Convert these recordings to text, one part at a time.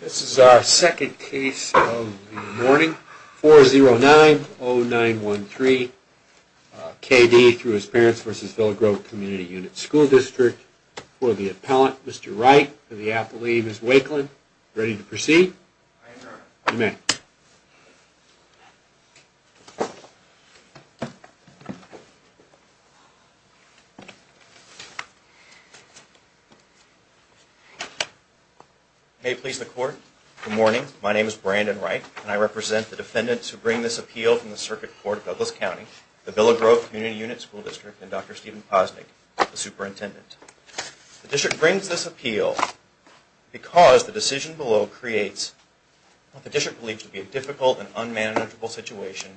This is our second case of the morning, 4090913 K. D. v. Grove community Unit School district for the appellant, Mr. Wright, for the appellee, Ms. Wakeland. Ready to proceed? I adjourn. May it please the Court, good morning. My name is Brandon Wright, and I represent the defendants who bring this appeal from the Circuit Court of Douglas County, the v. Grove community Unit School district, and Dr. Steven Posnick, the superintendent. The district brings this appeal because the decision below creates what the district believes to be a difficult and unmanageable situation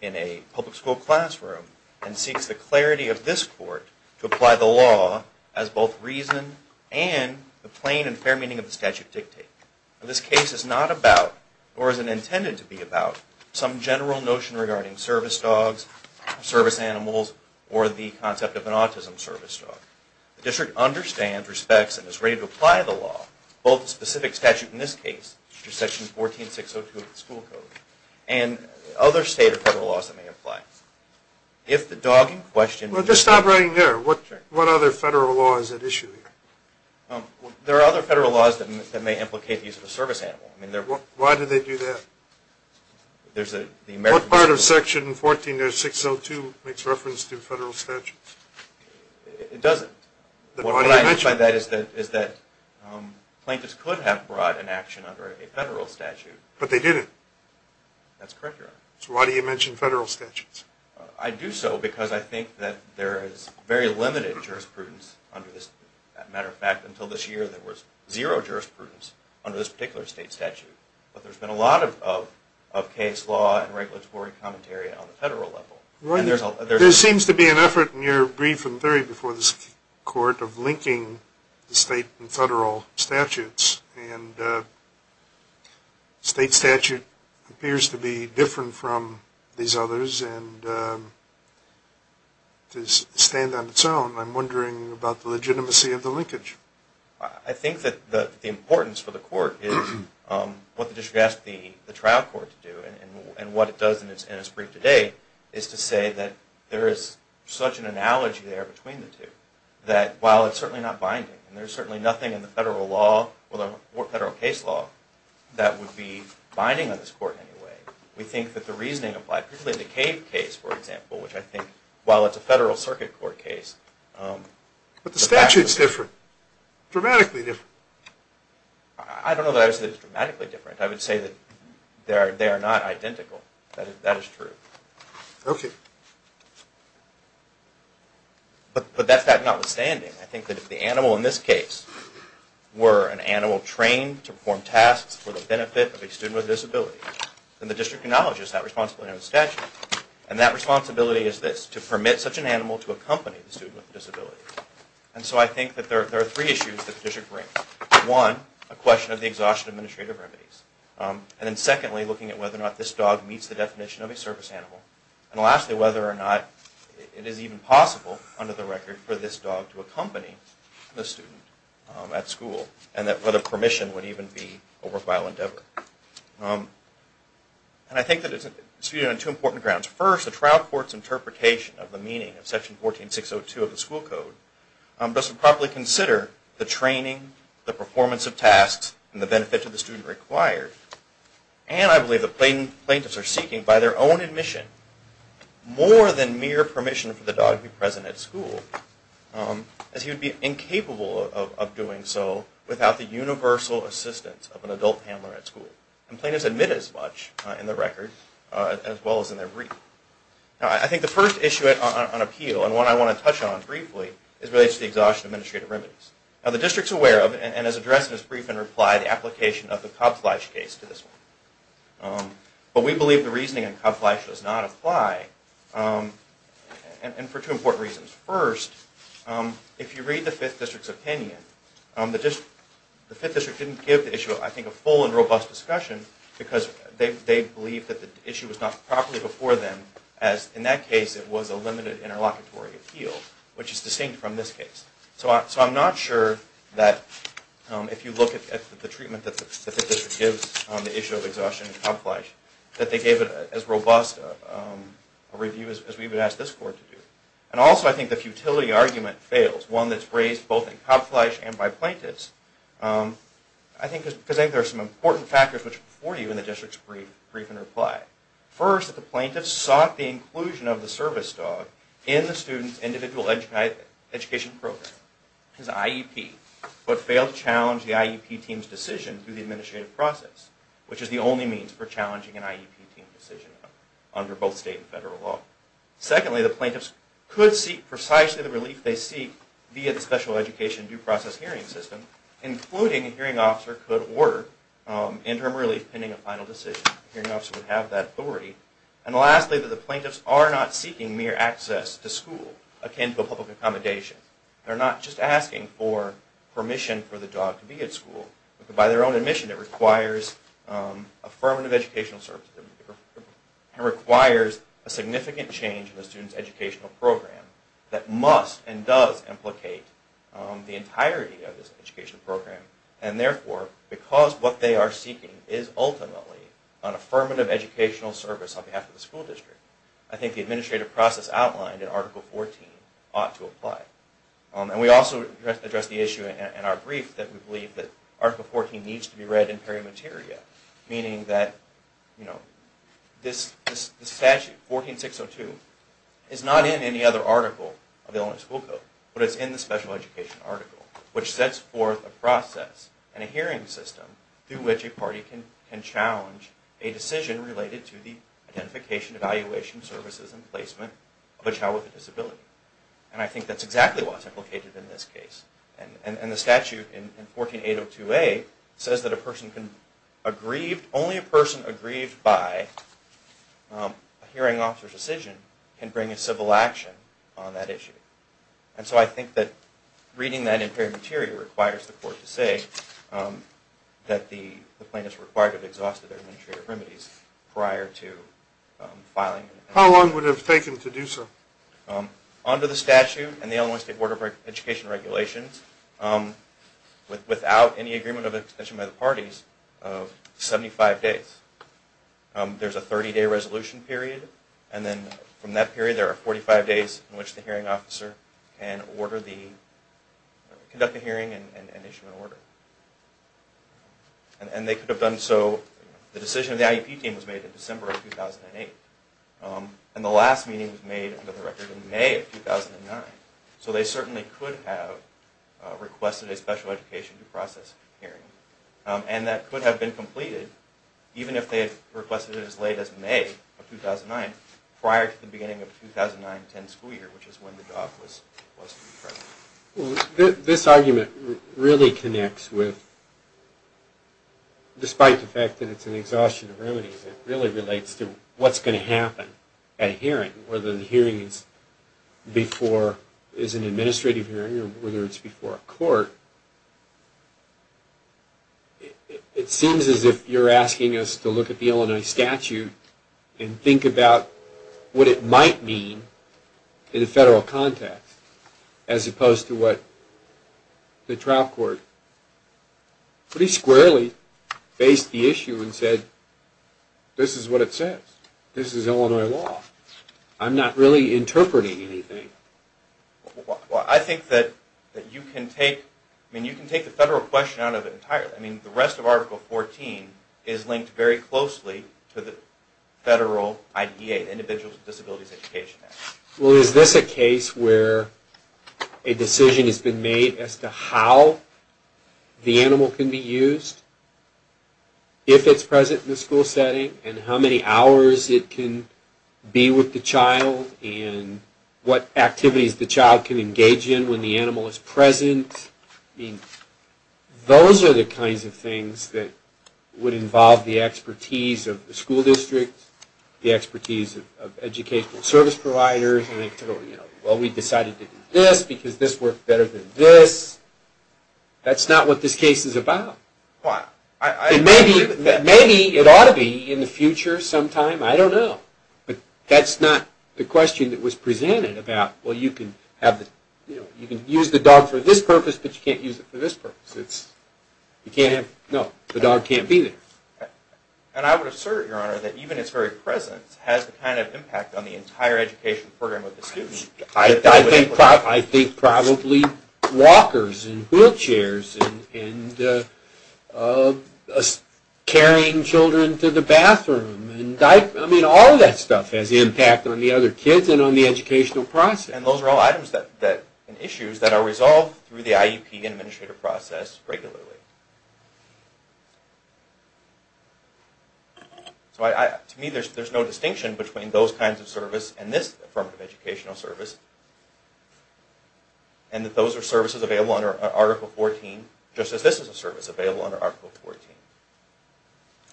in a public school classroom, and seeks the clarity of this Court to apply the law as both reason and the plain and fair meaning of the statute dictate. This case is not about, or is not intended to be about, some general notion regarding service dogs, service animals, or the concept of an autism service dog. The district understands, respects, and is ready to apply the law, both the specific statute in this case, section 14602 of the school code, and other state or federal laws that may apply. Well, just stop writing there. What other federal law is at issue here? There are other federal laws that may implicate the use of a service animal. Why do they do that? What part of section 14602 makes reference to federal statutes? It doesn't. Why do you mention it? What I mean by that is that plaintiffs could have brought an action under a federal statute. But they didn't. That's correct, Your Honor. So why do you mention federal statutes? I do so because I think that there is very limited jurisprudence under this. As a matter of fact, until this year there was zero jurisprudence under this particular state statute. But there's been a lot of case law and regulatory commentary on the federal level. There seems to be an effort in your brief and theory before this court of linking the state and federal statutes. And the state statute appears to be different from these others and to stand on its own. I'm wondering about the legitimacy of the linkage. I think that the importance for the court is what the district asked the trial court to do. And what it does in its brief today is to say that there is such an analogy there between the two. That while it's certainly not binding, and there's certainly nothing in the federal case law that would be binding on this court in any way, we think that the reasoning applied, particularly in the Cave case, for example, which I think, while it's a federal circuit court case, But the statute's different. Dramatically different. I don't know that I would say it's dramatically different. I would say that they are not identical. That is true. But that's notwithstanding, I think that if the animal in this case were an animal trained to perform tasks for the benefit of a student with a disability, and that responsibility is this, to permit such an animal to accompany the student with a disability. And so I think that there are three issues that the district brings. One, a question of the exhaustion of administrative remedies. And then secondly, looking at whether or not this dog meets the definition of a service animal. And lastly, whether or not it is even possible, under the record, for this dog to accompany the student at school. And whether permission would even be a worthwhile endeavor. And I think that it's viewed on two important grounds. First, the trial court's interpretation of the meaning of section 14602 of the school code doesn't properly consider the training, the performance of tasks, and the benefit to the student required. And I believe the plaintiffs are seeking, by their own admission, more than mere permission for the dog to be present at school. As he would be incapable of doing so without the universal assistance of an adult handler at school. And plaintiffs admit as much, in their record, as well as in their brief. Now I think the first issue on appeal, and one I want to touch on briefly, is related to the exhaustion of administrative remedies. Now the district's aware of, and has addressed in its brief in reply, the application of the Cobb-Fleisch case to this one. But we believe the reasoning in Cobb-Fleisch does not apply, and for two important reasons. First, if you read the 5th District's opinion, the 5th District didn't give the issue, I think, a full and robust discussion. Because they believed that the issue was not properly before them. As, in that case, it was a limited interlocutory appeal. Which is distinct from this case. So I'm not sure that, if you look at the treatment that the 5th District gives on the issue of exhaustion in Cobb-Fleisch, that they gave it as robust a review as we would ask this court to do. And also I think the futility argument fails. One that's raised both in Cobb-Fleisch and by plaintiffs. I think there are some important factors which report to you in the district's brief in reply. First, that the plaintiffs sought the inclusion of the service dog in the student's individual education program. His IEP. But failed to challenge the IEP team's decision through the administrative process. Which is the only means for challenging an IEP team decision under both state and federal law. Secondly, the plaintiffs could seek precisely the relief they seek via the special education due process hearing system. Including a hearing officer could order interim relief pending a final decision. A hearing officer would have that authority. And lastly, that the plaintiffs are not seeking mere access to school akin to a public accommodation. They're not just asking for permission for the dog to be at school. By their own admission, it requires affirmative educational services. It requires a significant change in the student's educational program. That must and does implicate the entirety of this educational program. And therefore, because what they are seeking is ultimately an affirmative educational service on behalf of the school district. I think the administrative process outlined in Article 14 ought to apply. And we also addressed the issue in our brief that we believe that Article 14 needs to be read in peri materia. Meaning that, you know, this statute, 14602, is not in any other article of the Illinois School Code. But it's in the special education article. Which sets forth a process and a hearing system through which a party can challenge a decision related to the identification, evaluation, services, and placement of a child with a disability. And I think that's exactly what's implicated in this case. And the statute in 14802A says that only a person aggrieved by a hearing officer's decision can bring a civil action on that issue. And so I think that reading that in peri materia requires the court to say that the plaintiff's required to have exhausted their administrative remedies prior to filing. How long would it have taken to do so? Under the statute and the Illinois State Board of Education regulations, without any agreement of extension by the parties, 75 days. There's a 30 day resolution period and then from that period there are 45 days in which the hearing officer can order the, conduct a hearing and issue an order. And they could have done so, the decision of the IEP team was made in December of 2008. And the last meeting was made under the record in May of 2009. So they certainly could have requested a special education due process hearing. And that could have been completed even if they had requested it as late as May of 2009, prior to the beginning of 2009-10 school year, which is when the job was to be presented. This argument really connects with, despite the fact that it's an exhaustion of remedies, it really relates to what's going to happen at a hearing, whether the hearing is before, is an administrative hearing or whether it's before a court. It seems as if you're asking us to look at the Illinois statute and think about what it might mean in a federal context, as opposed to what the trial court pretty squarely faced the issue and said, this is what it says, this is Illinois law. I'm not really interpreting anything. Well I think that you can take, I mean you can take the federal question out of it entirely. I mean the rest of Article 14 is linked very closely to the federal IDEA, Individuals with Disabilities Education Act. Well is this a case where a decision has been made as to how the animal can be used, if it's present in the school setting, and how many hours it can be with the child, and what activities the child can engage in when the animal is present. Those are the kinds of things that would involve the expertise of the school district, the expertise of educational service providers. Well we decided to do this because this worked better than this. That's not what this case is about. Maybe it ought to be in the future sometime, I don't know. But that's not the question that was presented about, well you can use the dog for this purpose, but you can't use it for this purpose. No, the dog can't be there. And I would assert, Your Honor, that even its very presence has the kind of impact on the entire education program of the student. I think probably walkers and wheelchairs and carrying children to the bathroom, I mean all of that stuff has impact on the other kids and on the educational process. And those are all items and issues that are resolved through the IEP and administrative process regularly. To me there's no distinction between those kinds of services and this form of educational service. And that those are services available under Article 14, just as this is a service available under Article 14.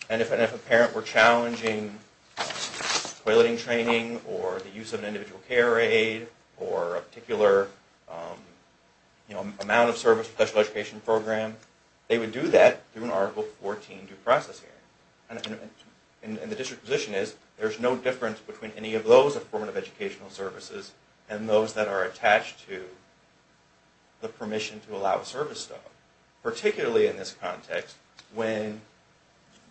And if a parent were challenging toileting training, or the use of an individual care aid, or a particular amount of service in a special education program, they would do that through an Article 14 due process hearing. And the district position is there's no difference between any of those forms of educational services and those that are attached to the permission to allow the service dog. Particularly in this context when,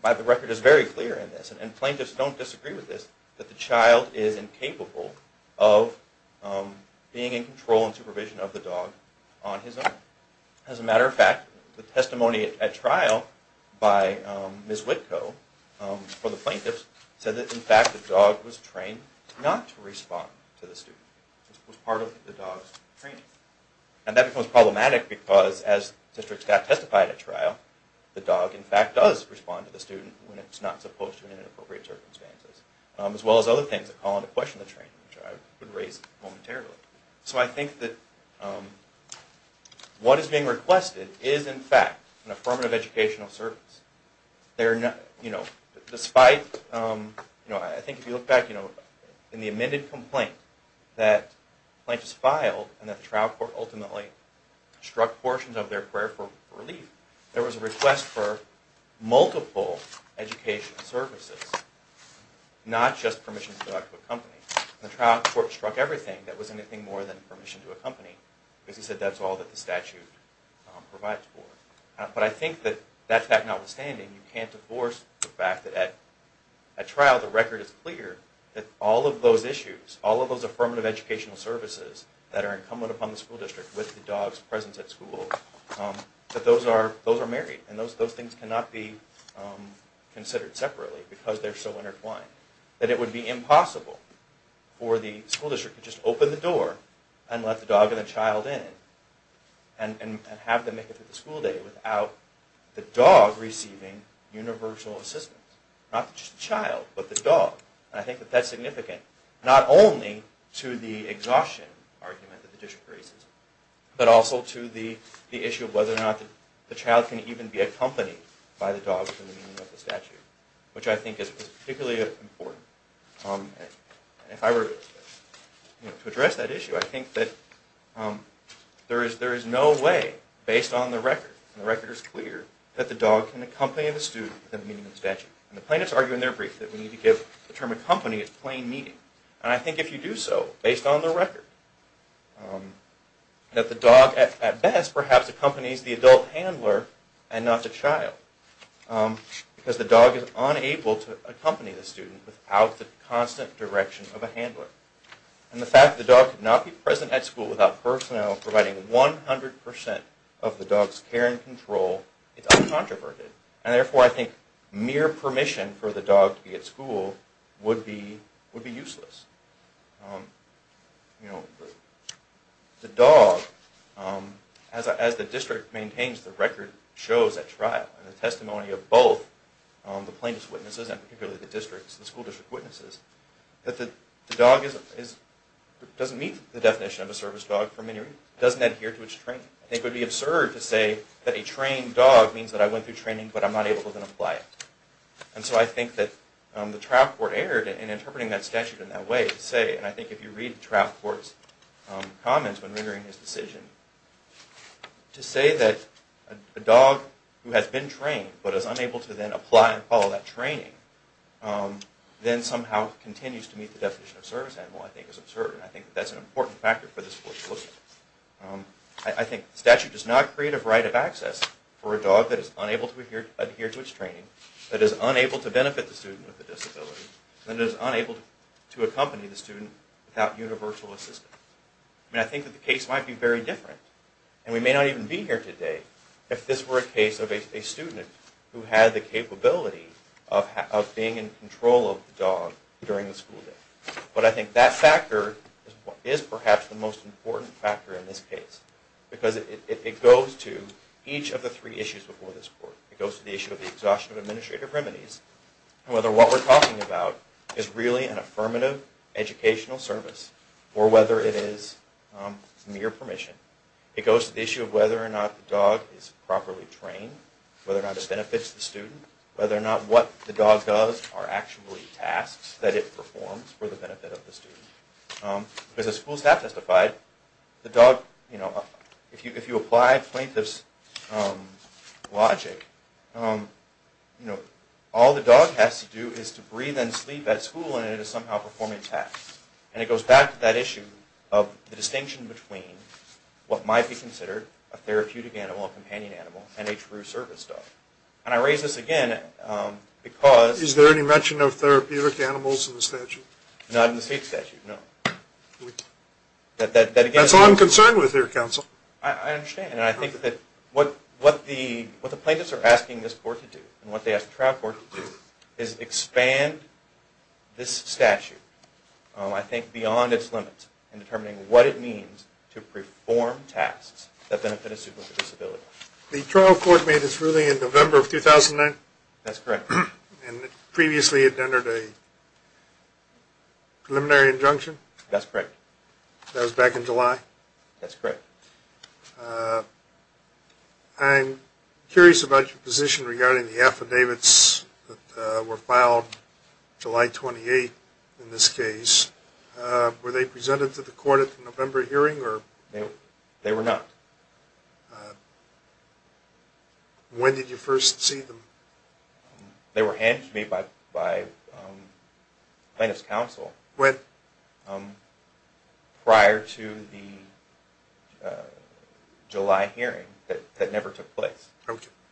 by the record, it's very clear in this, and plaintiffs don't disagree with this, that the child is incapable of being in control and supervision of the dog on his own. As a matter of fact, the testimony at trial by Ms. Witko, for the plaintiffs, said that in fact the dog was trained not to respond to the student. It was part of the dog's training. And that becomes problematic because as districts got testified at trial, the dog in fact does respond to the student when it's not supposed to in inappropriate circumstances. As well as other things that call into question the training which I would raise momentarily. So I think that what is being requested is in fact an affirmative educational service. Despite, I think if you look back, in the amended complaint that plaintiffs filed and that the trial court ultimately struck portions of their prayer for relief, there was a request for multiple educational services, not just permission to go out to a company. And the trial court struck everything that was anything more than permission to a company because he said that's all that the statute provides for. But I think that in fact notwithstanding, you can't divorce the fact that at trial the record is clear that all of those issues, all of those affirmative educational services that are incumbent upon the school district with the dog's presence at school, that those are married and those things cannot be considered separately because they're so intertwined. That it would be impossible for the school district to just open the door and let the dog and the child in and have them make it through the school day without the dog receiving universal assistance. Not just the child, but the dog. And I think that that's significant, not only to the exhaustion argument that the district raises, but also to the issue of whether or not the child can even be accompanied by the dog in the meaning of the statute, which I think is particularly important. If I were to address that issue, I think that there is no way, based on the record, and the record is clear, that the dog can accompany the student in the meaning of the statute. And the plaintiffs argue in their brief that we need to give the term accompany its plain meaning. And I think if you do so, based on the record, that the dog at best perhaps accompanies the adult handler and not the child. Because the dog is unable to accompany the student without the constant direction of a handler. And the fact that the dog could not be present at school without personnel providing 100% of the dog's care and control is uncontroverted. And therefore I think mere permission for the dog to be at school would be useless. You know, the dog, as the district maintains the record shows at trial, and the testimony of both the plaintiffs' witnesses, and particularly the school district witnesses, that the dog doesn't meet the definition of a service dog for many reasons. It doesn't adhere to its training. It would be absurd to say that a trained dog means that I went through training, but I'm not able to apply it. And so I think that the trial court erred in interpreting that statute in that way to say, and I think if you read the trial court's comments when rendering his decision, to say that a dog who has been trained but is unable to then apply and follow that training then somehow continues to meet the definition of service animal I think is absurd. And I think that's an important factor for this court to look at. I think the statute does not create a right of access for a dog that is unable to adhere to its training, that is unable to benefit the student with a disability, and is unable to accompany the student without universal assistance. And I think that the case might be very different. And we may not even be here today if this were a case of a student who had the capability of being in control of the dog during the school day. But I think that factor is perhaps the most important factor in this case. Because it goes to each of the three issues before this court. It goes to the issue of the exhaustion of administrative remedies, and whether what we're talking about is really an affirmative educational service, or whether it is mere permission. It goes to the issue of whether or not the dog is properly trained, whether or not it benefits the student, whether or not what the dog does are actually tasks that it performs for the benefit of the student. Because as school staff testified, if you apply plaintiff's logic, all the dog has to do is to breathe and sleep at school, and it is somehow performing tasks. And it goes back to that issue of the distinction between what might be considered a therapeutic animal, a companion animal, and a true service dog. And I raise this again because... Is there any mention of therapeutic animals in the statute? Not in the state statute, no. That's all I'm concerned with here, counsel. I understand. And I think that what the plaintiffs are asking this court to do, and what they ask the trial court to do, is expand this statute, I think beyond its limits, in determining what it means to perform tasks that benefit a student with a disability. The trial court made its ruling in November of 2009? That's correct. And previously it entered a preliminary injunction? That's correct. That was back in July? That's correct. I'm curious about your position regarding the affidavits that were filed July 28 in this case. Were they presented to the court at the November hearing? They were not. When did you first see them? They were handed to me by plaintiff's counsel prior to the July hearing that never took place.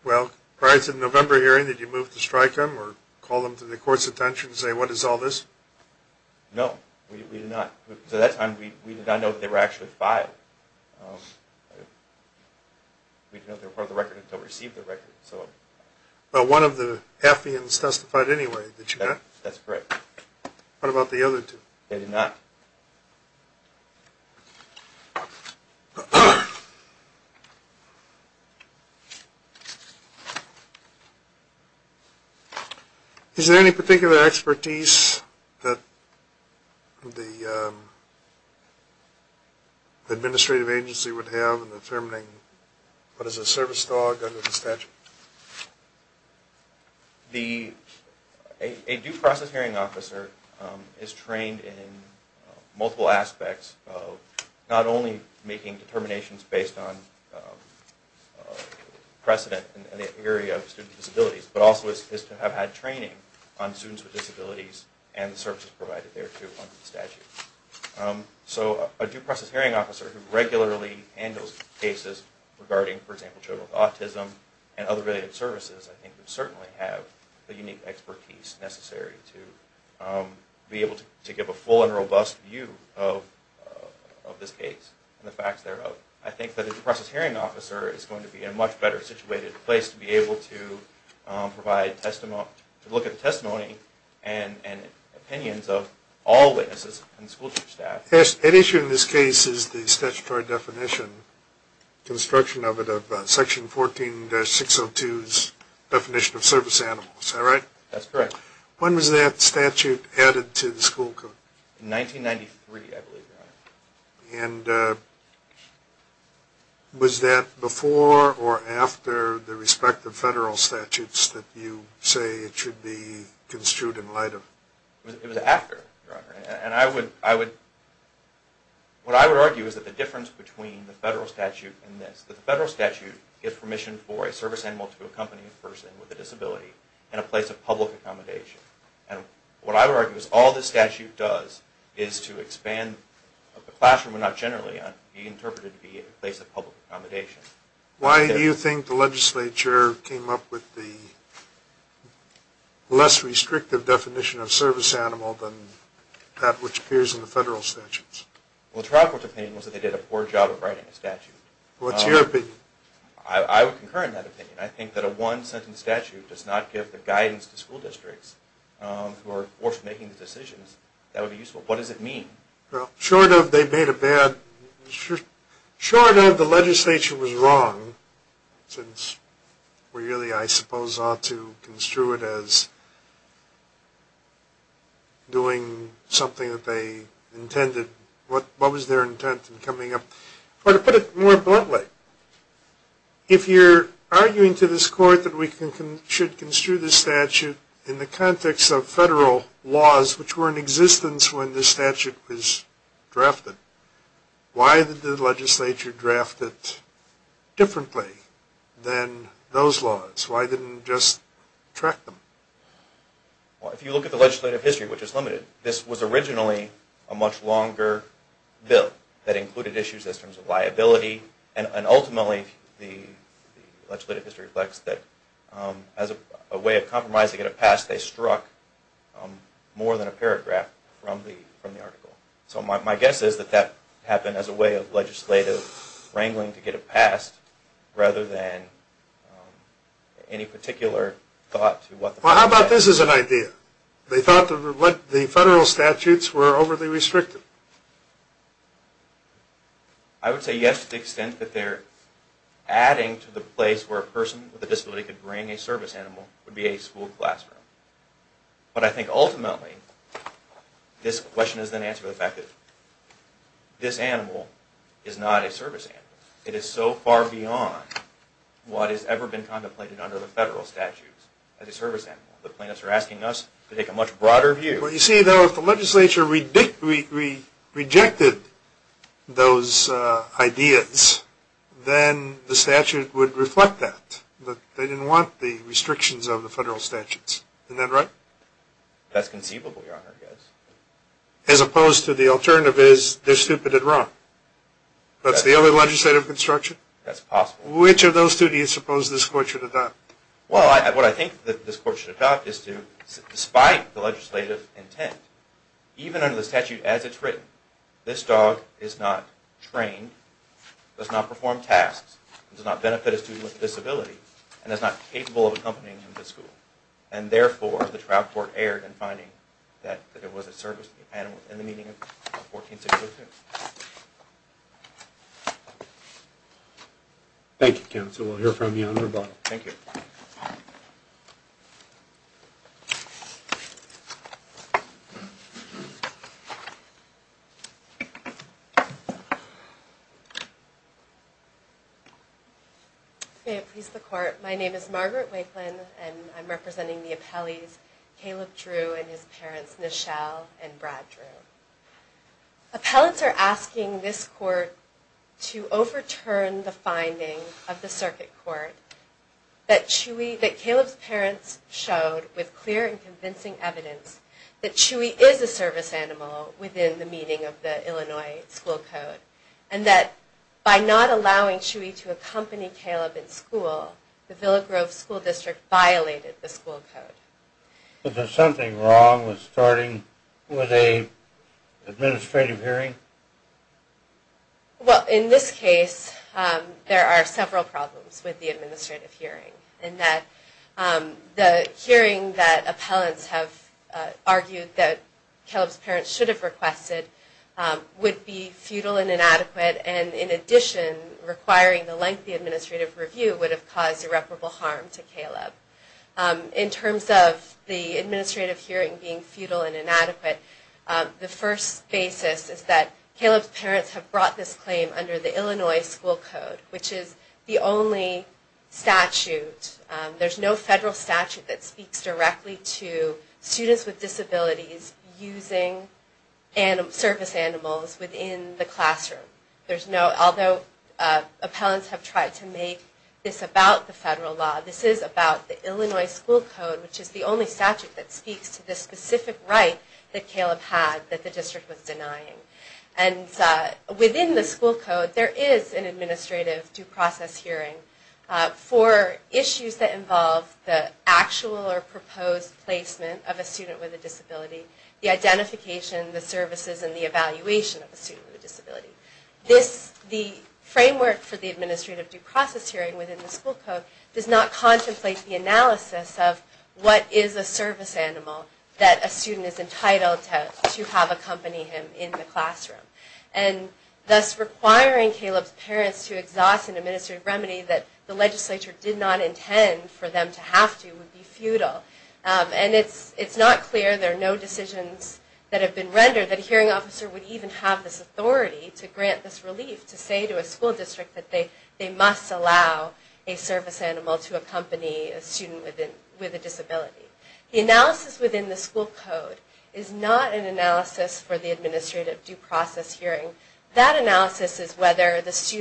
Well, prior to the November hearing, did you move to strike them or call them to the court's attention and say, what is all this? No, we did not. At that time, we did not know that they were actually filed. We did not know they were part of the record until we received the record. But one of the affidavits testified anyway, did you not? That's correct. What about the other two? They did not. Okay. Is there any particular expertise that the administrative agency would have in determining what is a service dog under the statute? A due process hearing officer is trained in multiple aspects of not only making determinations based on precedent in the area of student disabilities, but also is to have had training on students with disabilities and the services provided there too under the statute. So a due process hearing officer who regularly handles cases regarding, for example, autism and other related services I think would certainly have the unique expertise necessary to be able to give a full and robust view of this case and the facts thereof. I think that a due process hearing officer is going to be in a much better situated place to be able to provide testimony, to look at the testimony and opinions of all witnesses and school staff. An issue in this case is the statutory definition, construction of it, of section 14-602's definition of service animals. Is that right? That's correct. When was that statute added to the school code? In 1993, I believe, Your Honor. And was that before or after the respective federal statutes that you say it should be construed in light of? It was after, Your Honor. And what I would argue is that the difference between the federal statute and this, the federal statute gives permission for a service animal to accompany a person with a disability in a place of public accommodation. And what I would argue is all this statute does is to expand the classroom, but not generally, to be interpreted to be a place of public accommodation. Why do you think the legislature came up with the less restrictive definition of service animal than that which appears in the federal statutes? Well, the trial court's opinion was that they did a poor job of writing the statute. What's your opinion? I would concur in that opinion. I think that a one-sentence statute does not give the guidance to school districts who are forced to make these decisions that would be useful. What does it mean? Well, short of they made a bad, short of the legislature was wrong, since we really, I suppose, ought to construe it as doing something that they intended. What was their intent in coming up? To put it more bluntly, if you're arguing to this court that we should construe this statute in the context of federal laws which were in existence when this statute was drafted, why did the legislature draft it differently than those laws? Why didn't it just track them? Well, if you look at the legislative history, which is limited, this was originally a much longer bill that included issues in terms of liability, and ultimately the legislative history reflects that as a way of compromising to get it passed, they struck more than a paragraph from the article. So my guess is that that happened as a way of legislative wrangling to get it passed rather than any particular thought to what the fact is. Well, how about this as an idea? They thought the federal statutes were overly restricted. I would say yes to the extent that they're adding to the place where a person with a disability could bring a service animal would be a school classroom. But I think ultimately this question is an answer to the fact that this animal is not a service animal. It is so far beyond what has ever been contemplated under the federal statutes as a service animal. The plaintiffs are asking us to take a much broader view. Well, you see, though, if the legislature rejected those ideas, then the statute would reflect that, that they didn't want the restrictions of the federal statutes. Isn't that right? That's conceivable, Your Honor, yes. As opposed to the alternative is they're stupid and wrong. That's the only legislative construction? That's possible. Which of those two do you suppose this court should adopt? Well, what I think this court should adopt is to, despite the legislative intent, even under the statute as it's written, this dog is not trained, does not perform tasks, does not benefit a student with a disability, and is not capable of accompanying him to school. And therefore, the trial court erred in finding that it was a service animal in the meaning of 14602. Thank you, counsel. We'll hear from you on rebuttal. Thank you. May it please the court. My name is Margaret Wakelin, and I'm representing the appellees, Caleb Drew and his parents, Nichelle and Brad Drew. Appellants are asking this court to overturn the finding of the circuit court that Caleb's parents showed with clear and convincing evidence that Chewy is a service animal within the meaning of the Illinois school code, and that by not allowing Chewy to accompany Caleb in school, the Villagrove School District violated the school code. Was there something wrong with starting with an administrative hearing? Well, in this case, there are several problems with the administrative hearing, in that the hearing that appellants have argued that Caleb's parents should have requested would be futile and inadequate, and in addition, requiring the lengthy administrative review would have caused irreparable harm to Caleb. In terms of the administrative hearing being futile and inadequate, the first basis is that Caleb's parents have brought this claim under the Illinois school code, which is the only statute. There's no federal statute that speaks directly to students with disabilities using service animals within the classroom. Although appellants have tried to make this about the federal law, this is about the Illinois school code, which is the only statute that speaks to the specific right that Caleb had that the district was denying. And within the school code, there is an administrative due process hearing for issues that involve the actual or proposed placement of a student with a disability, the identification, the services, and the evaluation of a student with a disability. The framework for the administrative due process hearing within the school code does not contemplate the analysis of what is a service animal that a student is entitled to have accompany him in the classroom. And thus requiring Caleb's parents to exhaust an administrative remedy that the legislature did not intend for them to have to would be futile. And it's not clear, there are no decisions that have been rendered, that a hearing officer would even have this authority to grant this relief, to say to a school district that they must allow a service animal to accompany a student with a disability. The analysis within the school code is not an analysis for the administrative due process hearing. That analysis is whether the school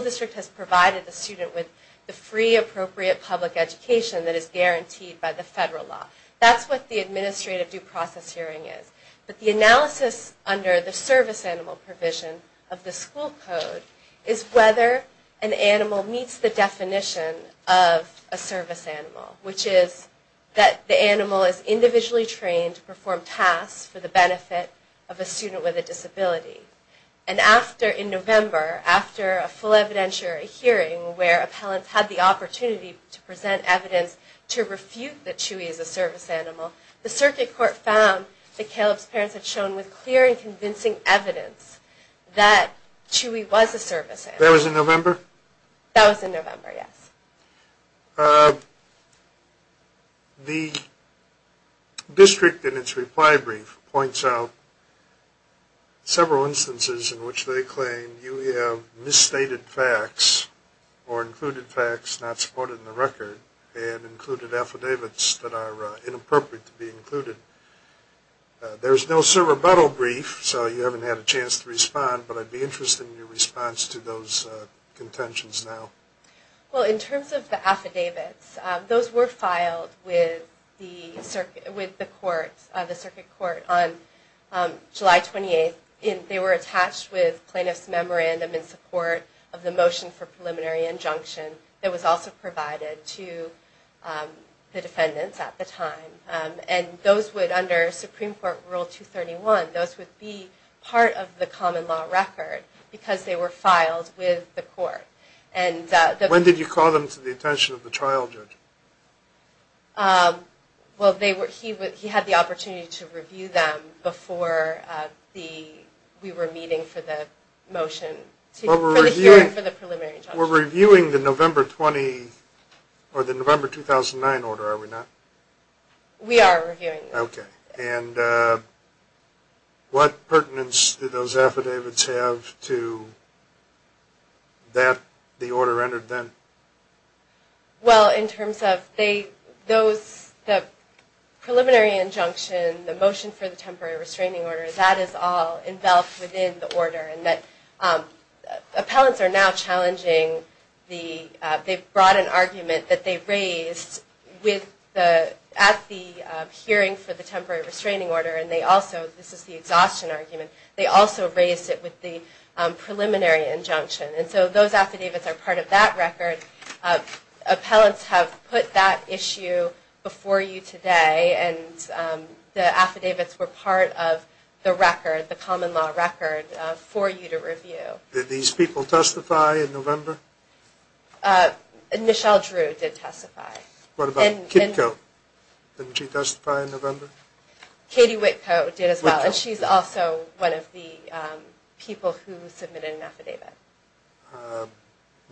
district has provided the student with the free appropriate public education that is guaranteed by the federal law. That's what the administrative due process hearing is. But the analysis under the service animal provision of the school code is whether an animal meets the definition of a service animal, which is that the animal is individually trained to perform tasks for the benefit of a student with a disability. And after, in November, after a full evidentiary hearing where appellants had the opportunity to present evidence to refute that Chewy is a service animal, the circuit court found that Caleb's parents had shown with clear and convincing evidence that Chewy was a service animal. That was in November? That was in November, yes. The district in its reply brief points out several instances in which they claim you have misstated facts or included facts not supported in the record and included affidavits that are inappropriate to be included. There is no cerebral brief, so you haven't had a chance to respond, but I'd be interested in your response to those contentions now. Well, in terms of the affidavits, those were filed with the circuit court on July 28th. They were attached with plaintiff's memorandum in support of the motion for preliminary injunction that was also provided to the defendants at the time. And those would, under Supreme Court Rule 231, those would be part of the common law record because they were filed with the court. When did you call them to the attention of the trial judge? Well, he had the opportunity to review them before we were meeting for the motion for the preliminary injunction. We're reviewing the November 2009 order, are we not? We are reviewing it. Okay. And what pertinence did those affidavits have to that the order entered then? Well, in terms of the preliminary injunction, the motion for the temporary restraining order, that is all enveloped within the order. Appellants are now challenging the, they've brought an argument that they raised at the hearing for the temporary restraining order, and they also, this is the exhaustion argument, they also raised it with the preliminary injunction. And so those affidavits are part of that record. Appellants have put that issue before you today, and the affidavits were part of the record, the common law record, for you to review. Did these people testify in November? Michelle Drew did testify. What about Kitty Coe? Didn't she testify in November? Katie Whitcoe did as well, and she's also one of the people who submitted an affidavit.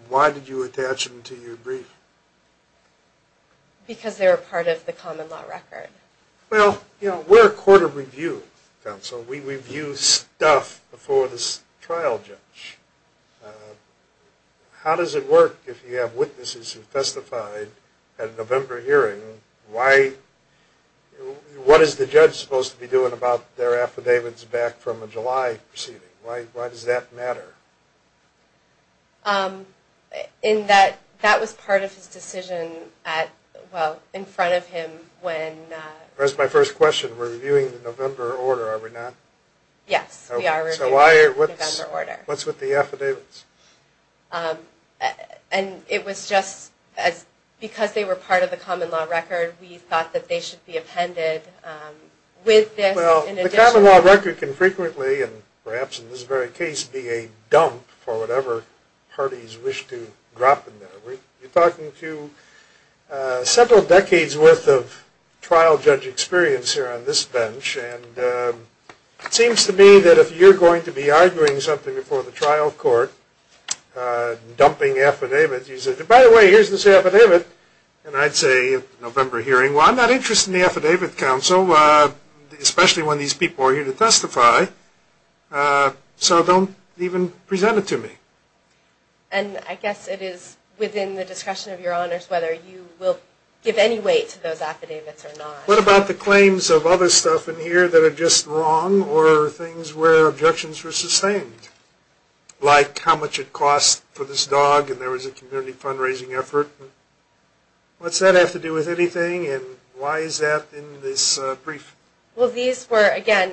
Why did you attach them to your brief? Because they were part of the common law record. Well, you know, we're a court of review, counsel. We review stuff before the trial judge. How does it work if you have witnesses who testified at a November hearing? Why, what is the judge supposed to be doing about their affidavits back from a July proceeding? Why does that matter? In that that was part of his decision at, well, in front of him when. That's my first question. We're reviewing the November order, are we not? Yes, we are reviewing the November order. So what's with the affidavits? And it was just because they were part of the common law record, we thought that they should be appended with this in addition. The common law record can frequently, and perhaps in this very case, be a dump for whatever parties wish to drop in there. We're talking to several decades' worth of trial judge experience here on this bench, and it seems to me that if you're going to be arguing something before the trial court, dumping affidavits, you say, by the way, here's this affidavit, and I'd say at the November hearing, well, I'm not interested in the affidavit, counsel, especially when these people are here to testify, so don't even present it to me. And I guess it is within the discussion of your honors whether you will give any weight to those affidavits or not. What about the claims of other stuff in here that are just wrong, or things where objections were sustained, like how much it costs for this dog and there was a community fundraising effort? What's that have to do with anything, and why is that in this brief? Well, these were, again,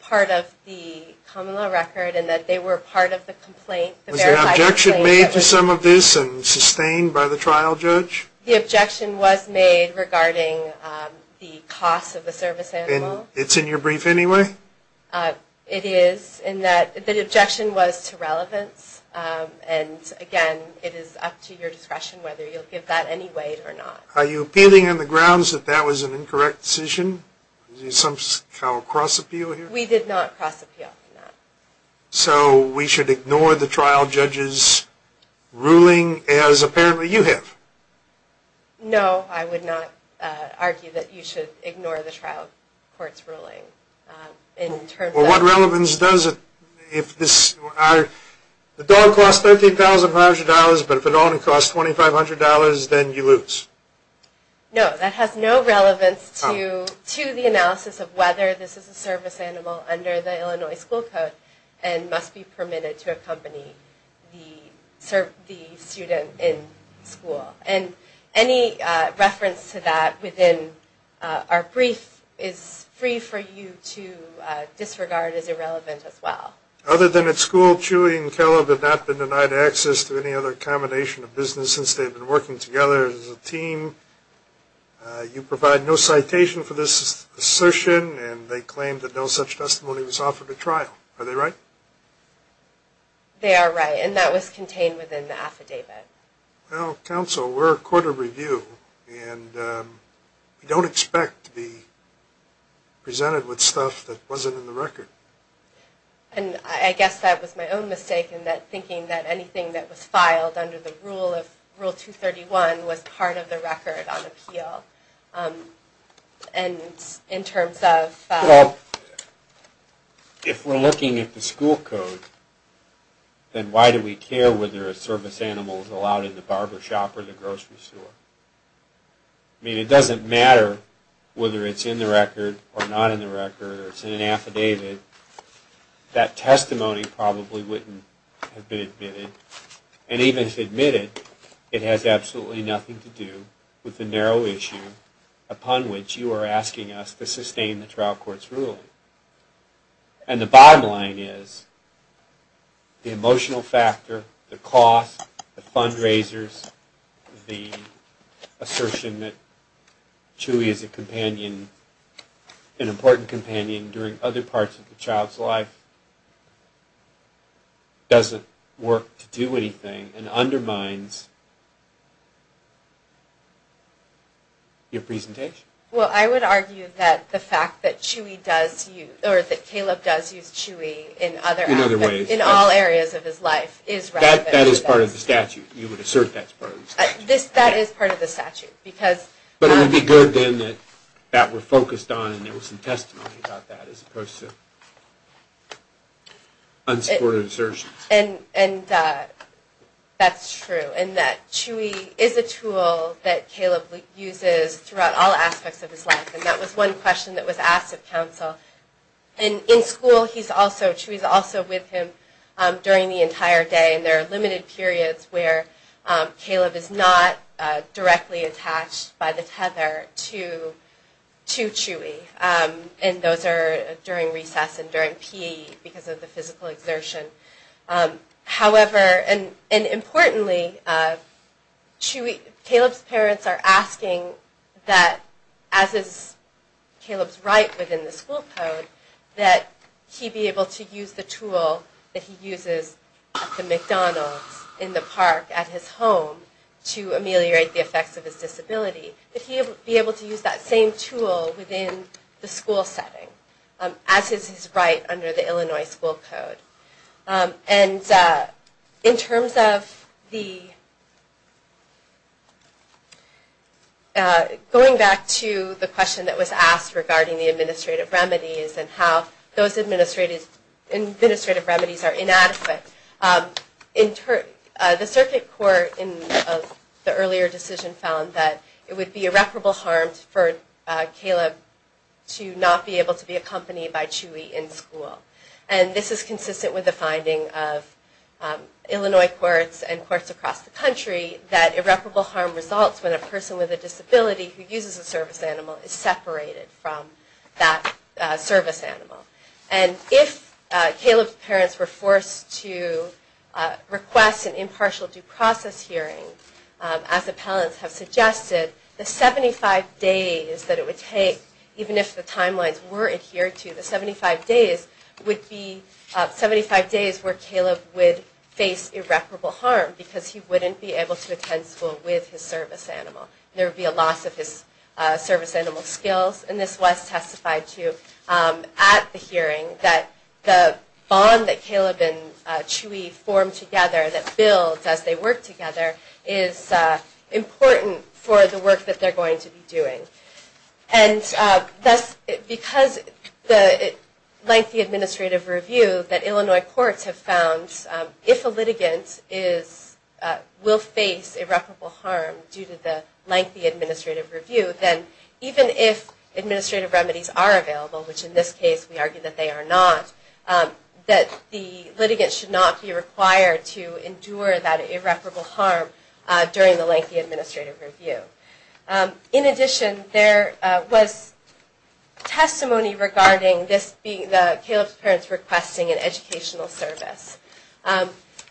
part of the common law record in that they were part of the complaint. Was there an objection made to some of this and sustained by the trial judge? The objection was made regarding the cost of the service animal. It's in your brief anyway? It is, in that the objection was to relevance, and again, it is up to your discretion whether you'll give that any weight or not. Are you appealing on the grounds that that was an incorrect decision? Is there some kind of cross-appeal here? We did not cross-appeal on that. So we should ignore the trial judge's ruling as apparently you have? No, I would not argue that you should ignore the trial court's ruling. Well, what relevance does it, if this, the dog costs $13,500, but if it only costs $2,500, then you lose? No, that has no relevance to the analysis of whether this is a service animal under the Illinois school code and must be permitted to accompany the student in school. And any reference to that within our brief is free for you to disregard as irrelevant as well. Other than at school, Chewy and Kellogg have not been denied access to any other accommodation or business since they've been working together as a team. You provide no citation for this assertion, and they claim that no such testimony was offered at trial. Are they right? They are right, and that was contained within the affidavit. Well, counsel, we're a court of review, and we don't expect to be presented with stuff that wasn't in the record. And I guess that was my own mistake in that thinking that anything that was filed under the rule of Rule 231 was part of the record on appeal. And in terms of... Well, if we're looking at the school code, then why do we care whether a service animal is allowed in the barbershop or the grocery store? I mean, it doesn't matter whether it's in the record or not in the record or it's in an affidavit. That testimony probably wouldn't have been admitted. And even if admitted, it has absolutely nothing to do with the narrow issue upon which you are asking us to sustain the trial court's ruling. And the bottom line is the emotional factor, the cost, the fundraisers, the assertion that Chewy is an important companion during other parts of the child's life doesn't work to do anything and undermines your presentation. Well, I would argue that the fact that Chewy does use... or that Caleb does use Chewy in other... In other ways. In all areas of his life is relevant. That is part of the statute. You would assert that's part of the statute. That is part of the statute because... But it would be good then that that were focused on and there was some testimony about that as opposed to unsupported assertions. And that's true. And that Chewy is a tool that Caleb uses throughout all aspects of his life. And that was one question that was asked of counsel. And in school, he's also... Chewy's also with him during the entire day. And there are limited periods where Caleb is not directly attached by the tether to Chewy. And those are during recess and during PE because of the physical exertion. However, and importantly, Chewy... Caleb's parents are asking that, as is Caleb's right within the school code, that he be able to use the tool that he uses at the McDonald's in the park at his home to ameliorate the effects of his disability. That he be able to use that same tool within the school setting, as is his right under the Illinois school code. And in terms of the... and how those administrative remedies are inadequate, the circuit court in the earlier decision found that it would be irreparable harm for Caleb to not be able to be accompanied by Chewy in school. And this is consistent with the finding of Illinois courts and courts across the country that irreparable harm results when a person with a disability who uses a service animal is separated from that service animal. And if Caleb's parents were forced to request an impartial due process hearing, as appellants have suggested, the 75 days that it would take, even if the timelines were adhered to, the 75 days would be 75 days where Caleb would face irreparable harm because he wouldn't be able to attend school with his service animal. There would be a loss of his service animal skills. And this was testified to at the hearing, that the bond that Caleb and Chewy formed together, that builds as they work together, is important for the work that they're going to be doing. And thus, because the lengthy administrative review that Illinois courts have found, that if a litigant will face irreparable harm due to the lengthy administrative review, then even if administrative remedies are available, which in this case we argue that they are not, that the litigant should not be required to endure that irreparable harm during the lengthy administrative review. In addition, there was testimony regarding this being, Caleb's parents requesting an educational service.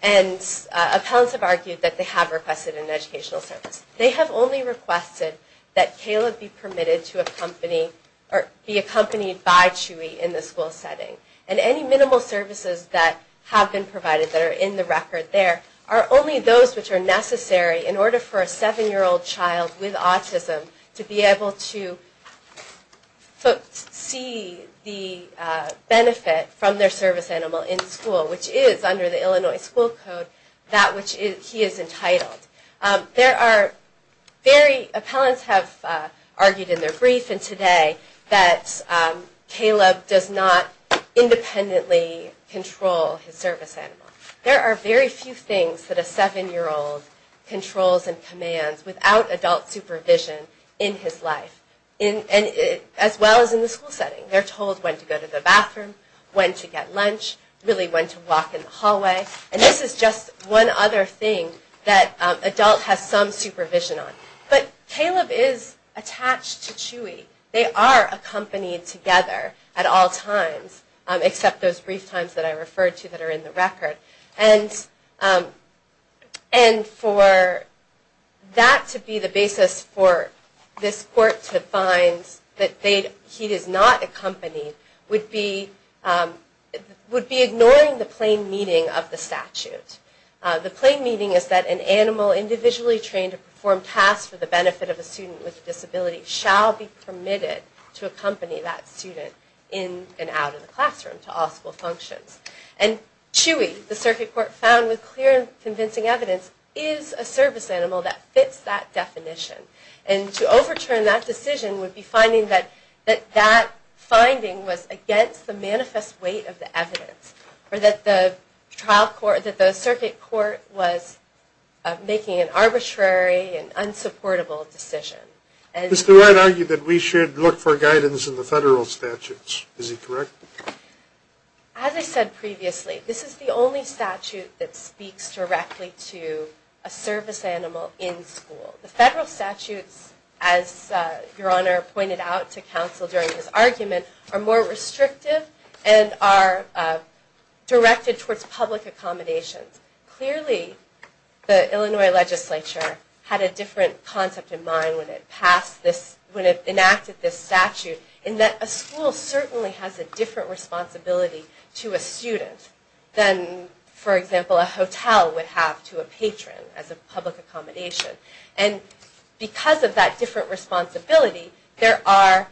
And appellants have argued that they have requested an educational service. They have only requested that Caleb be permitted to accompany, or be accompanied by Chewy in the school setting. And any minimal services that have been provided, that are in the record there, are only those which are necessary in order for a 7-year-old child with autism to be able to see the benefit from their service animal in school, which is under the Illinois school code, that which he is entitled. There are very, appellants have argued in their brief and today, that Caleb does not independently control his service animal. There are very few things that a 7-year-old controls and commands without adult supervision in his life, as well as in the school setting. They're told when to go to the bathroom, when to get lunch, really when to walk in the hallway. And this is just one other thing that adult has some supervision on. But Caleb is attached to Chewy. They are accompanied together at all times, except those brief times that I referred to that are in the record. And for that to be the basis for this court to find that he is not accompanied, would be ignoring the plain meaning of the statute. The plain meaning is that an animal individually trained to perform tasks for the benefit of a student with a disability shall be permitted to accompany that student in and out of the classroom to all school functions. And Chewy, the circuit court found with clear and convincing evidence, is a service animal that fits that definition. And to overturn that decision would be finding that that finding was against the manifest weight of the evidence, or that the circuit court was making an arbitrary and unsupportable decision. Mr. Wright argued that we should look for guidance in the federal statutes. Is he correct? As I said previously, this is the only statute that speaks directly to a service animal in school. The federal statutes, as Your Honor pointed out to counsel during this argument, are more restrictive and are directed towards public accommodations. Clearly, the Illinois legislature had a different concept in mind when it passed this, when it enacted this statute, in that a school certainly has a different responsibility to a student than, for example, a hotel would have to a patron as a public accommodation. And because of that different responsibility, there are,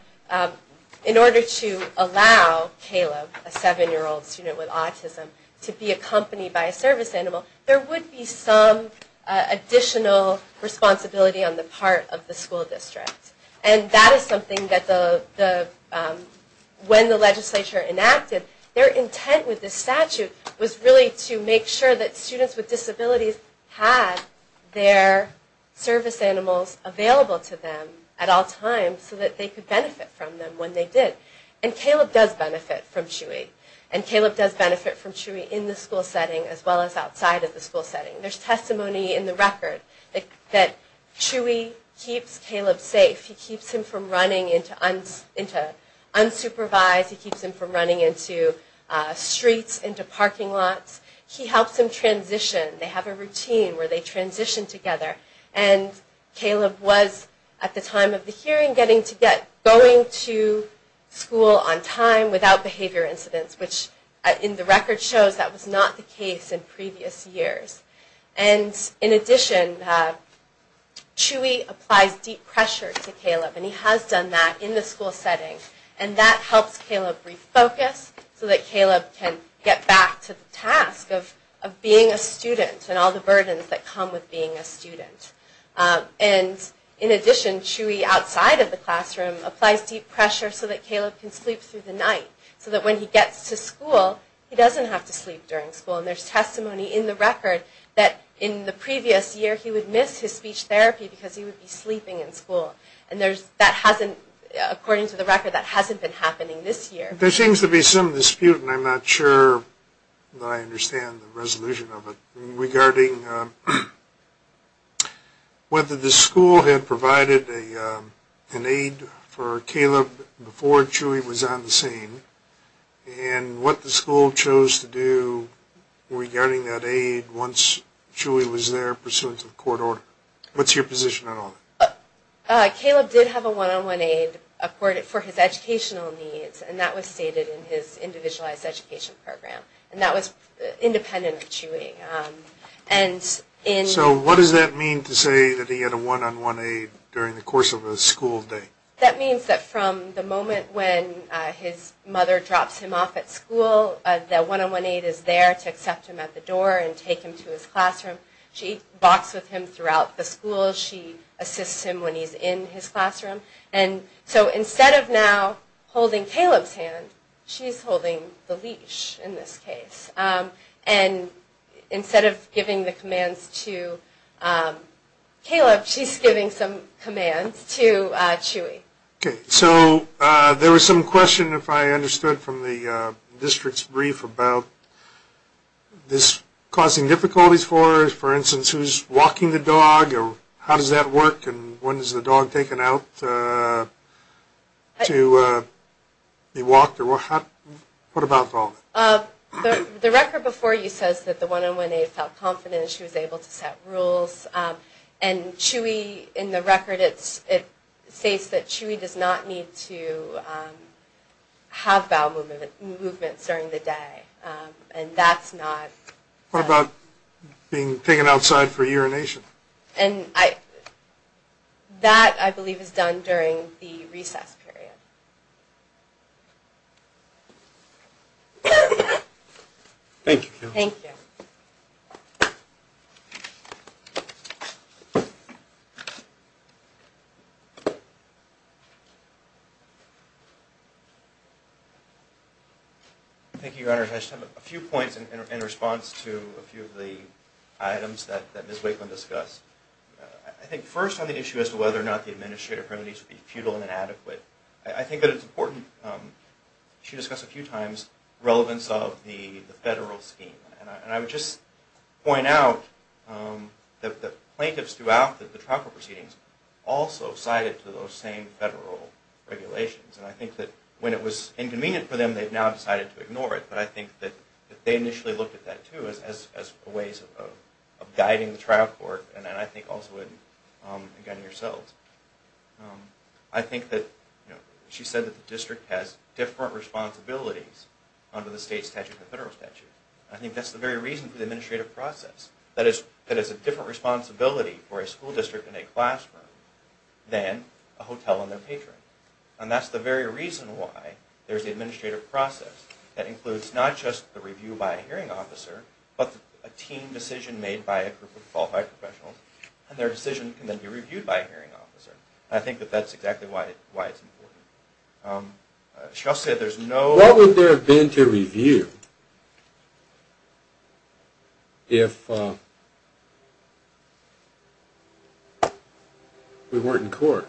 in order to allow Caleb, a seven-year-old student with autism, to be accompanied by a service animal, there would be some additional responsibility on the part of the school district. And that is something that when the legislature enacted, their intent with this statute was really to make sure that students with disabilities had their service animals available to them at all times so that they could benefit from them when they did. And Caleb does benefit from Chewy. And Caleb does benefit from Chewy in the school setting as well as outside of the school setting. There's testimony in the record that Chewy keeps Caleb safe. He keeps him from running into unsupervised. He keeps him from running into streets, into parking lots. He helps him transition. They have a routine where they transition together. And Caleb was, at the time of the hearing, going to school on time without behavior incidents, which in the record shows that was not the case in previous years. And in addition, Chewy applies deep pressure to Caleb. And he has done that in the school setting. And that helps Caleb refocus so that Caleb can get back to the task of being a student and all the burdens that come with being a student. And in addition, Chewy, outside of the classroom, applies deep pressure so that Caleb can sleep through the night so that when he gets to school, he doesn't have to sleep during school. And there's testimony in the record that in the previous year, he would miss his speech therapy because he would be sleeping in school. And that hasn't, according to the record, that hasn't been happening this year. There seems to be some dispute, and I'm not sure that I understand the resolution of it, I'm just wondering whether the school had provided an aid for Caleb before Chewy was on the scene, and what the school chose to do regarding that aid once Chewy was there pursuant to the court order. What's your position on all that? Caleb did have a one-on-one aid for his educational needs, and that was stated in his individualized education program. And that was independent of Chewy. So what does that mean to say that he had a one-on-one aid during the course of a school day? That means that from the moment when his mother drops him off at school, that one-on-one aid is there to accept him at the door and take him to his classroom. She walks with him throughout the school. She assists him when he's in his classroom. And so instead of now holding Caleb's hand, she's holding the leash in this case. And instead of giving the commands to Caleb, she's giving some commands to Chewy. Okay, so there was some question, if I understood from the district's brief, about this causing difficulties for, for instance, who's walking the dog, or how does that work, and when is the dog taken out to be walked? What about dog? The record before you says that the one-on-one aid felt confident. She was able to set rules. And Chewy, in the record, it states that Chewy does not need to have bowel movements during the day. And that's not... What about being taken outside for urination? And I... That, I believe, is done during the recess period. Thank you. Thank you. Thank you, Your Honor. I just have a few points in response to a few of the items that Ms. Wakeland discussed. I think first on the issue as to whether or not the administrative penalties would be futile and inadequate, I think that it's important, she discussed a few times, relevance of the federal scheme. And I would just point out that the plaintiffs throughout the trial proceedings also sided to those same federal regulations. And I think that when it was inconvenient for them, they've now decided to ignore it. But I think that they initially looked at that, too, as a way of guiding the trial court, and I think also, again, yourselves. I think that she said that the district has different responsibilities under the state statute than the federal statute. I think that's the very reason for the administrative process, that it's a different responsibility for a school district and a classroom than a hotel and their patron. And that's the very reason why there's an administrative process that includes not just the review by a hearing officer, but a team decision made by a group of qualified professionals, and their decision can then be reviewed by a hearing officer. I think that that's exactly why it's important. She also said there's no... What would there have been to review if we weren't in court?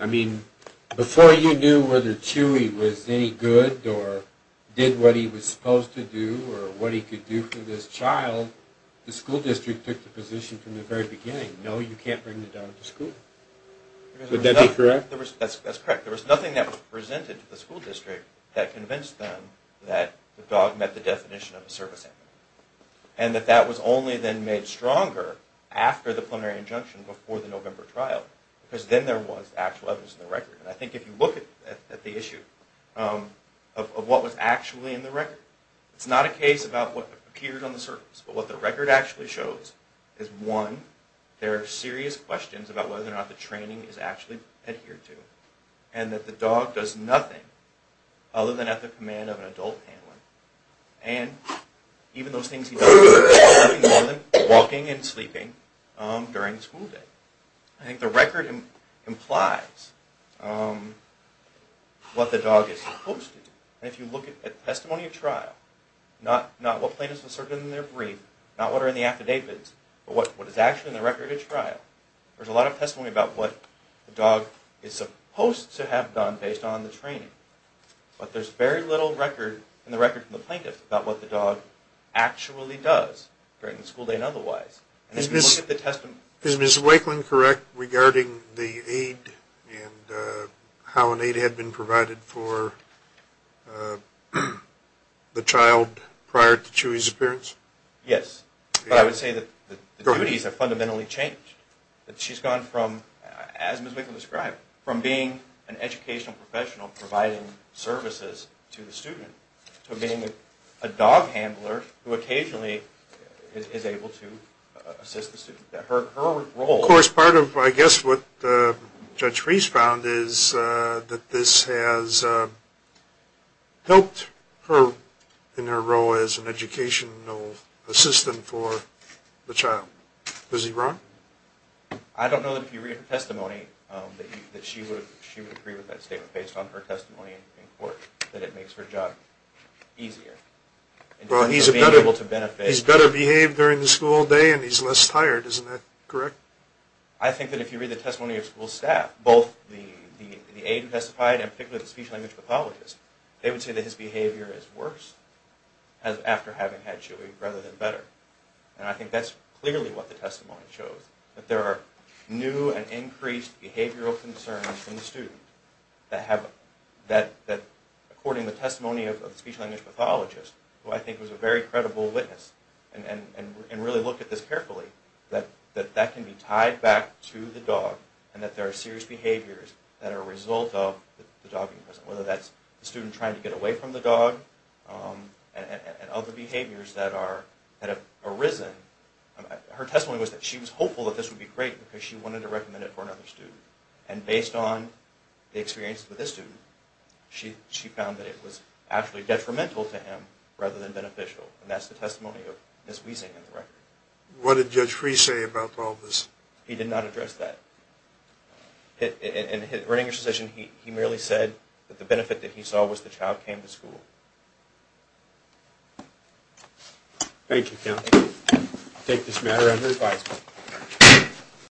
I mean, before you knew whether Chewy was any good, or did what he was supposed to do, or what he could do for this child, the school district took the position from the very beginning, no, you can't bring the dog to school. Would that be correct? That's correct. There was nothing that was presented to the school district that convinced them that the dog met the definition of a service animal, and that that was only then made stronger after the plenary injunction before the November trial, because then there was actual evidence in the record. And I think if you look at the issue of what was actually in the record, it's not a case about what appeared on the surface, but what the record actually shows is, one, there are serious questions about whether or not the training is actually adhered to, and that the dog does nothing other than at the command of an adult handler, and even those things he does, nothing more than walking and sleeping during school day. I think the record implies what the dog is supposed to do. And if you look at testimony at trial, not what plaintiffs asserted in their brief, not what are in the affidavits, but what is actually in the record at trial, there's a lot of testimony about what the dog is supposed to have done based on the training. But there's very little record in the record from the plaintiffs about what the dog actually does during the school day and otherwise. Is Ms. Wakelin correct regarding the aid and how an aid had been provided for the child prior to Chewy's appearance? Yes, but I would say that the duties have fundamentally changed. She's gone from, as Ms. Wakelin described, from being an educational professional providing services to the student to being a dog handler who occasionally is able to assist the student. Of course, part of, I guess, what Judge Reese found is that this has helped her in her role as an educational assistant for the child. Is he wrong? I don't know that if you read her testimony that she would agree with that statement based on her testimony in court, that it makes her job easier. He's better behaved during the school day and he's less tired, isn't that correct? I think that if you read the testimony of school staff, both the aid who testified and particularly the speech language pathologist, they would say that his behavior is worse after having had Chewy rather than better. And I think that's clearly what the testimony shows, that there are new and increased behavioral concerns in the student that according to the testimony of the speech language pathologist, who I think was a very credible witness and really looked at this carefully, that that can be tied back to the dog and that there are serious behaviors that are a result of the dog being present, whether that's the student trying to get away from the dog and other behaviors that have arisen. Her testimony was that she was hopeful that this would be great because she wanted to recommend it for another student. And based on the experience with this student, she found that it was actually detrimental to him rather than beneficial. And that's the testimony of Ms. Wiesing in the record. What did Judge Freeh say about all this? He did not address that. In his written intercession, he merely said that the benefit that he saw was the child came to school. Thank you, counsel. I take this matter under advisement.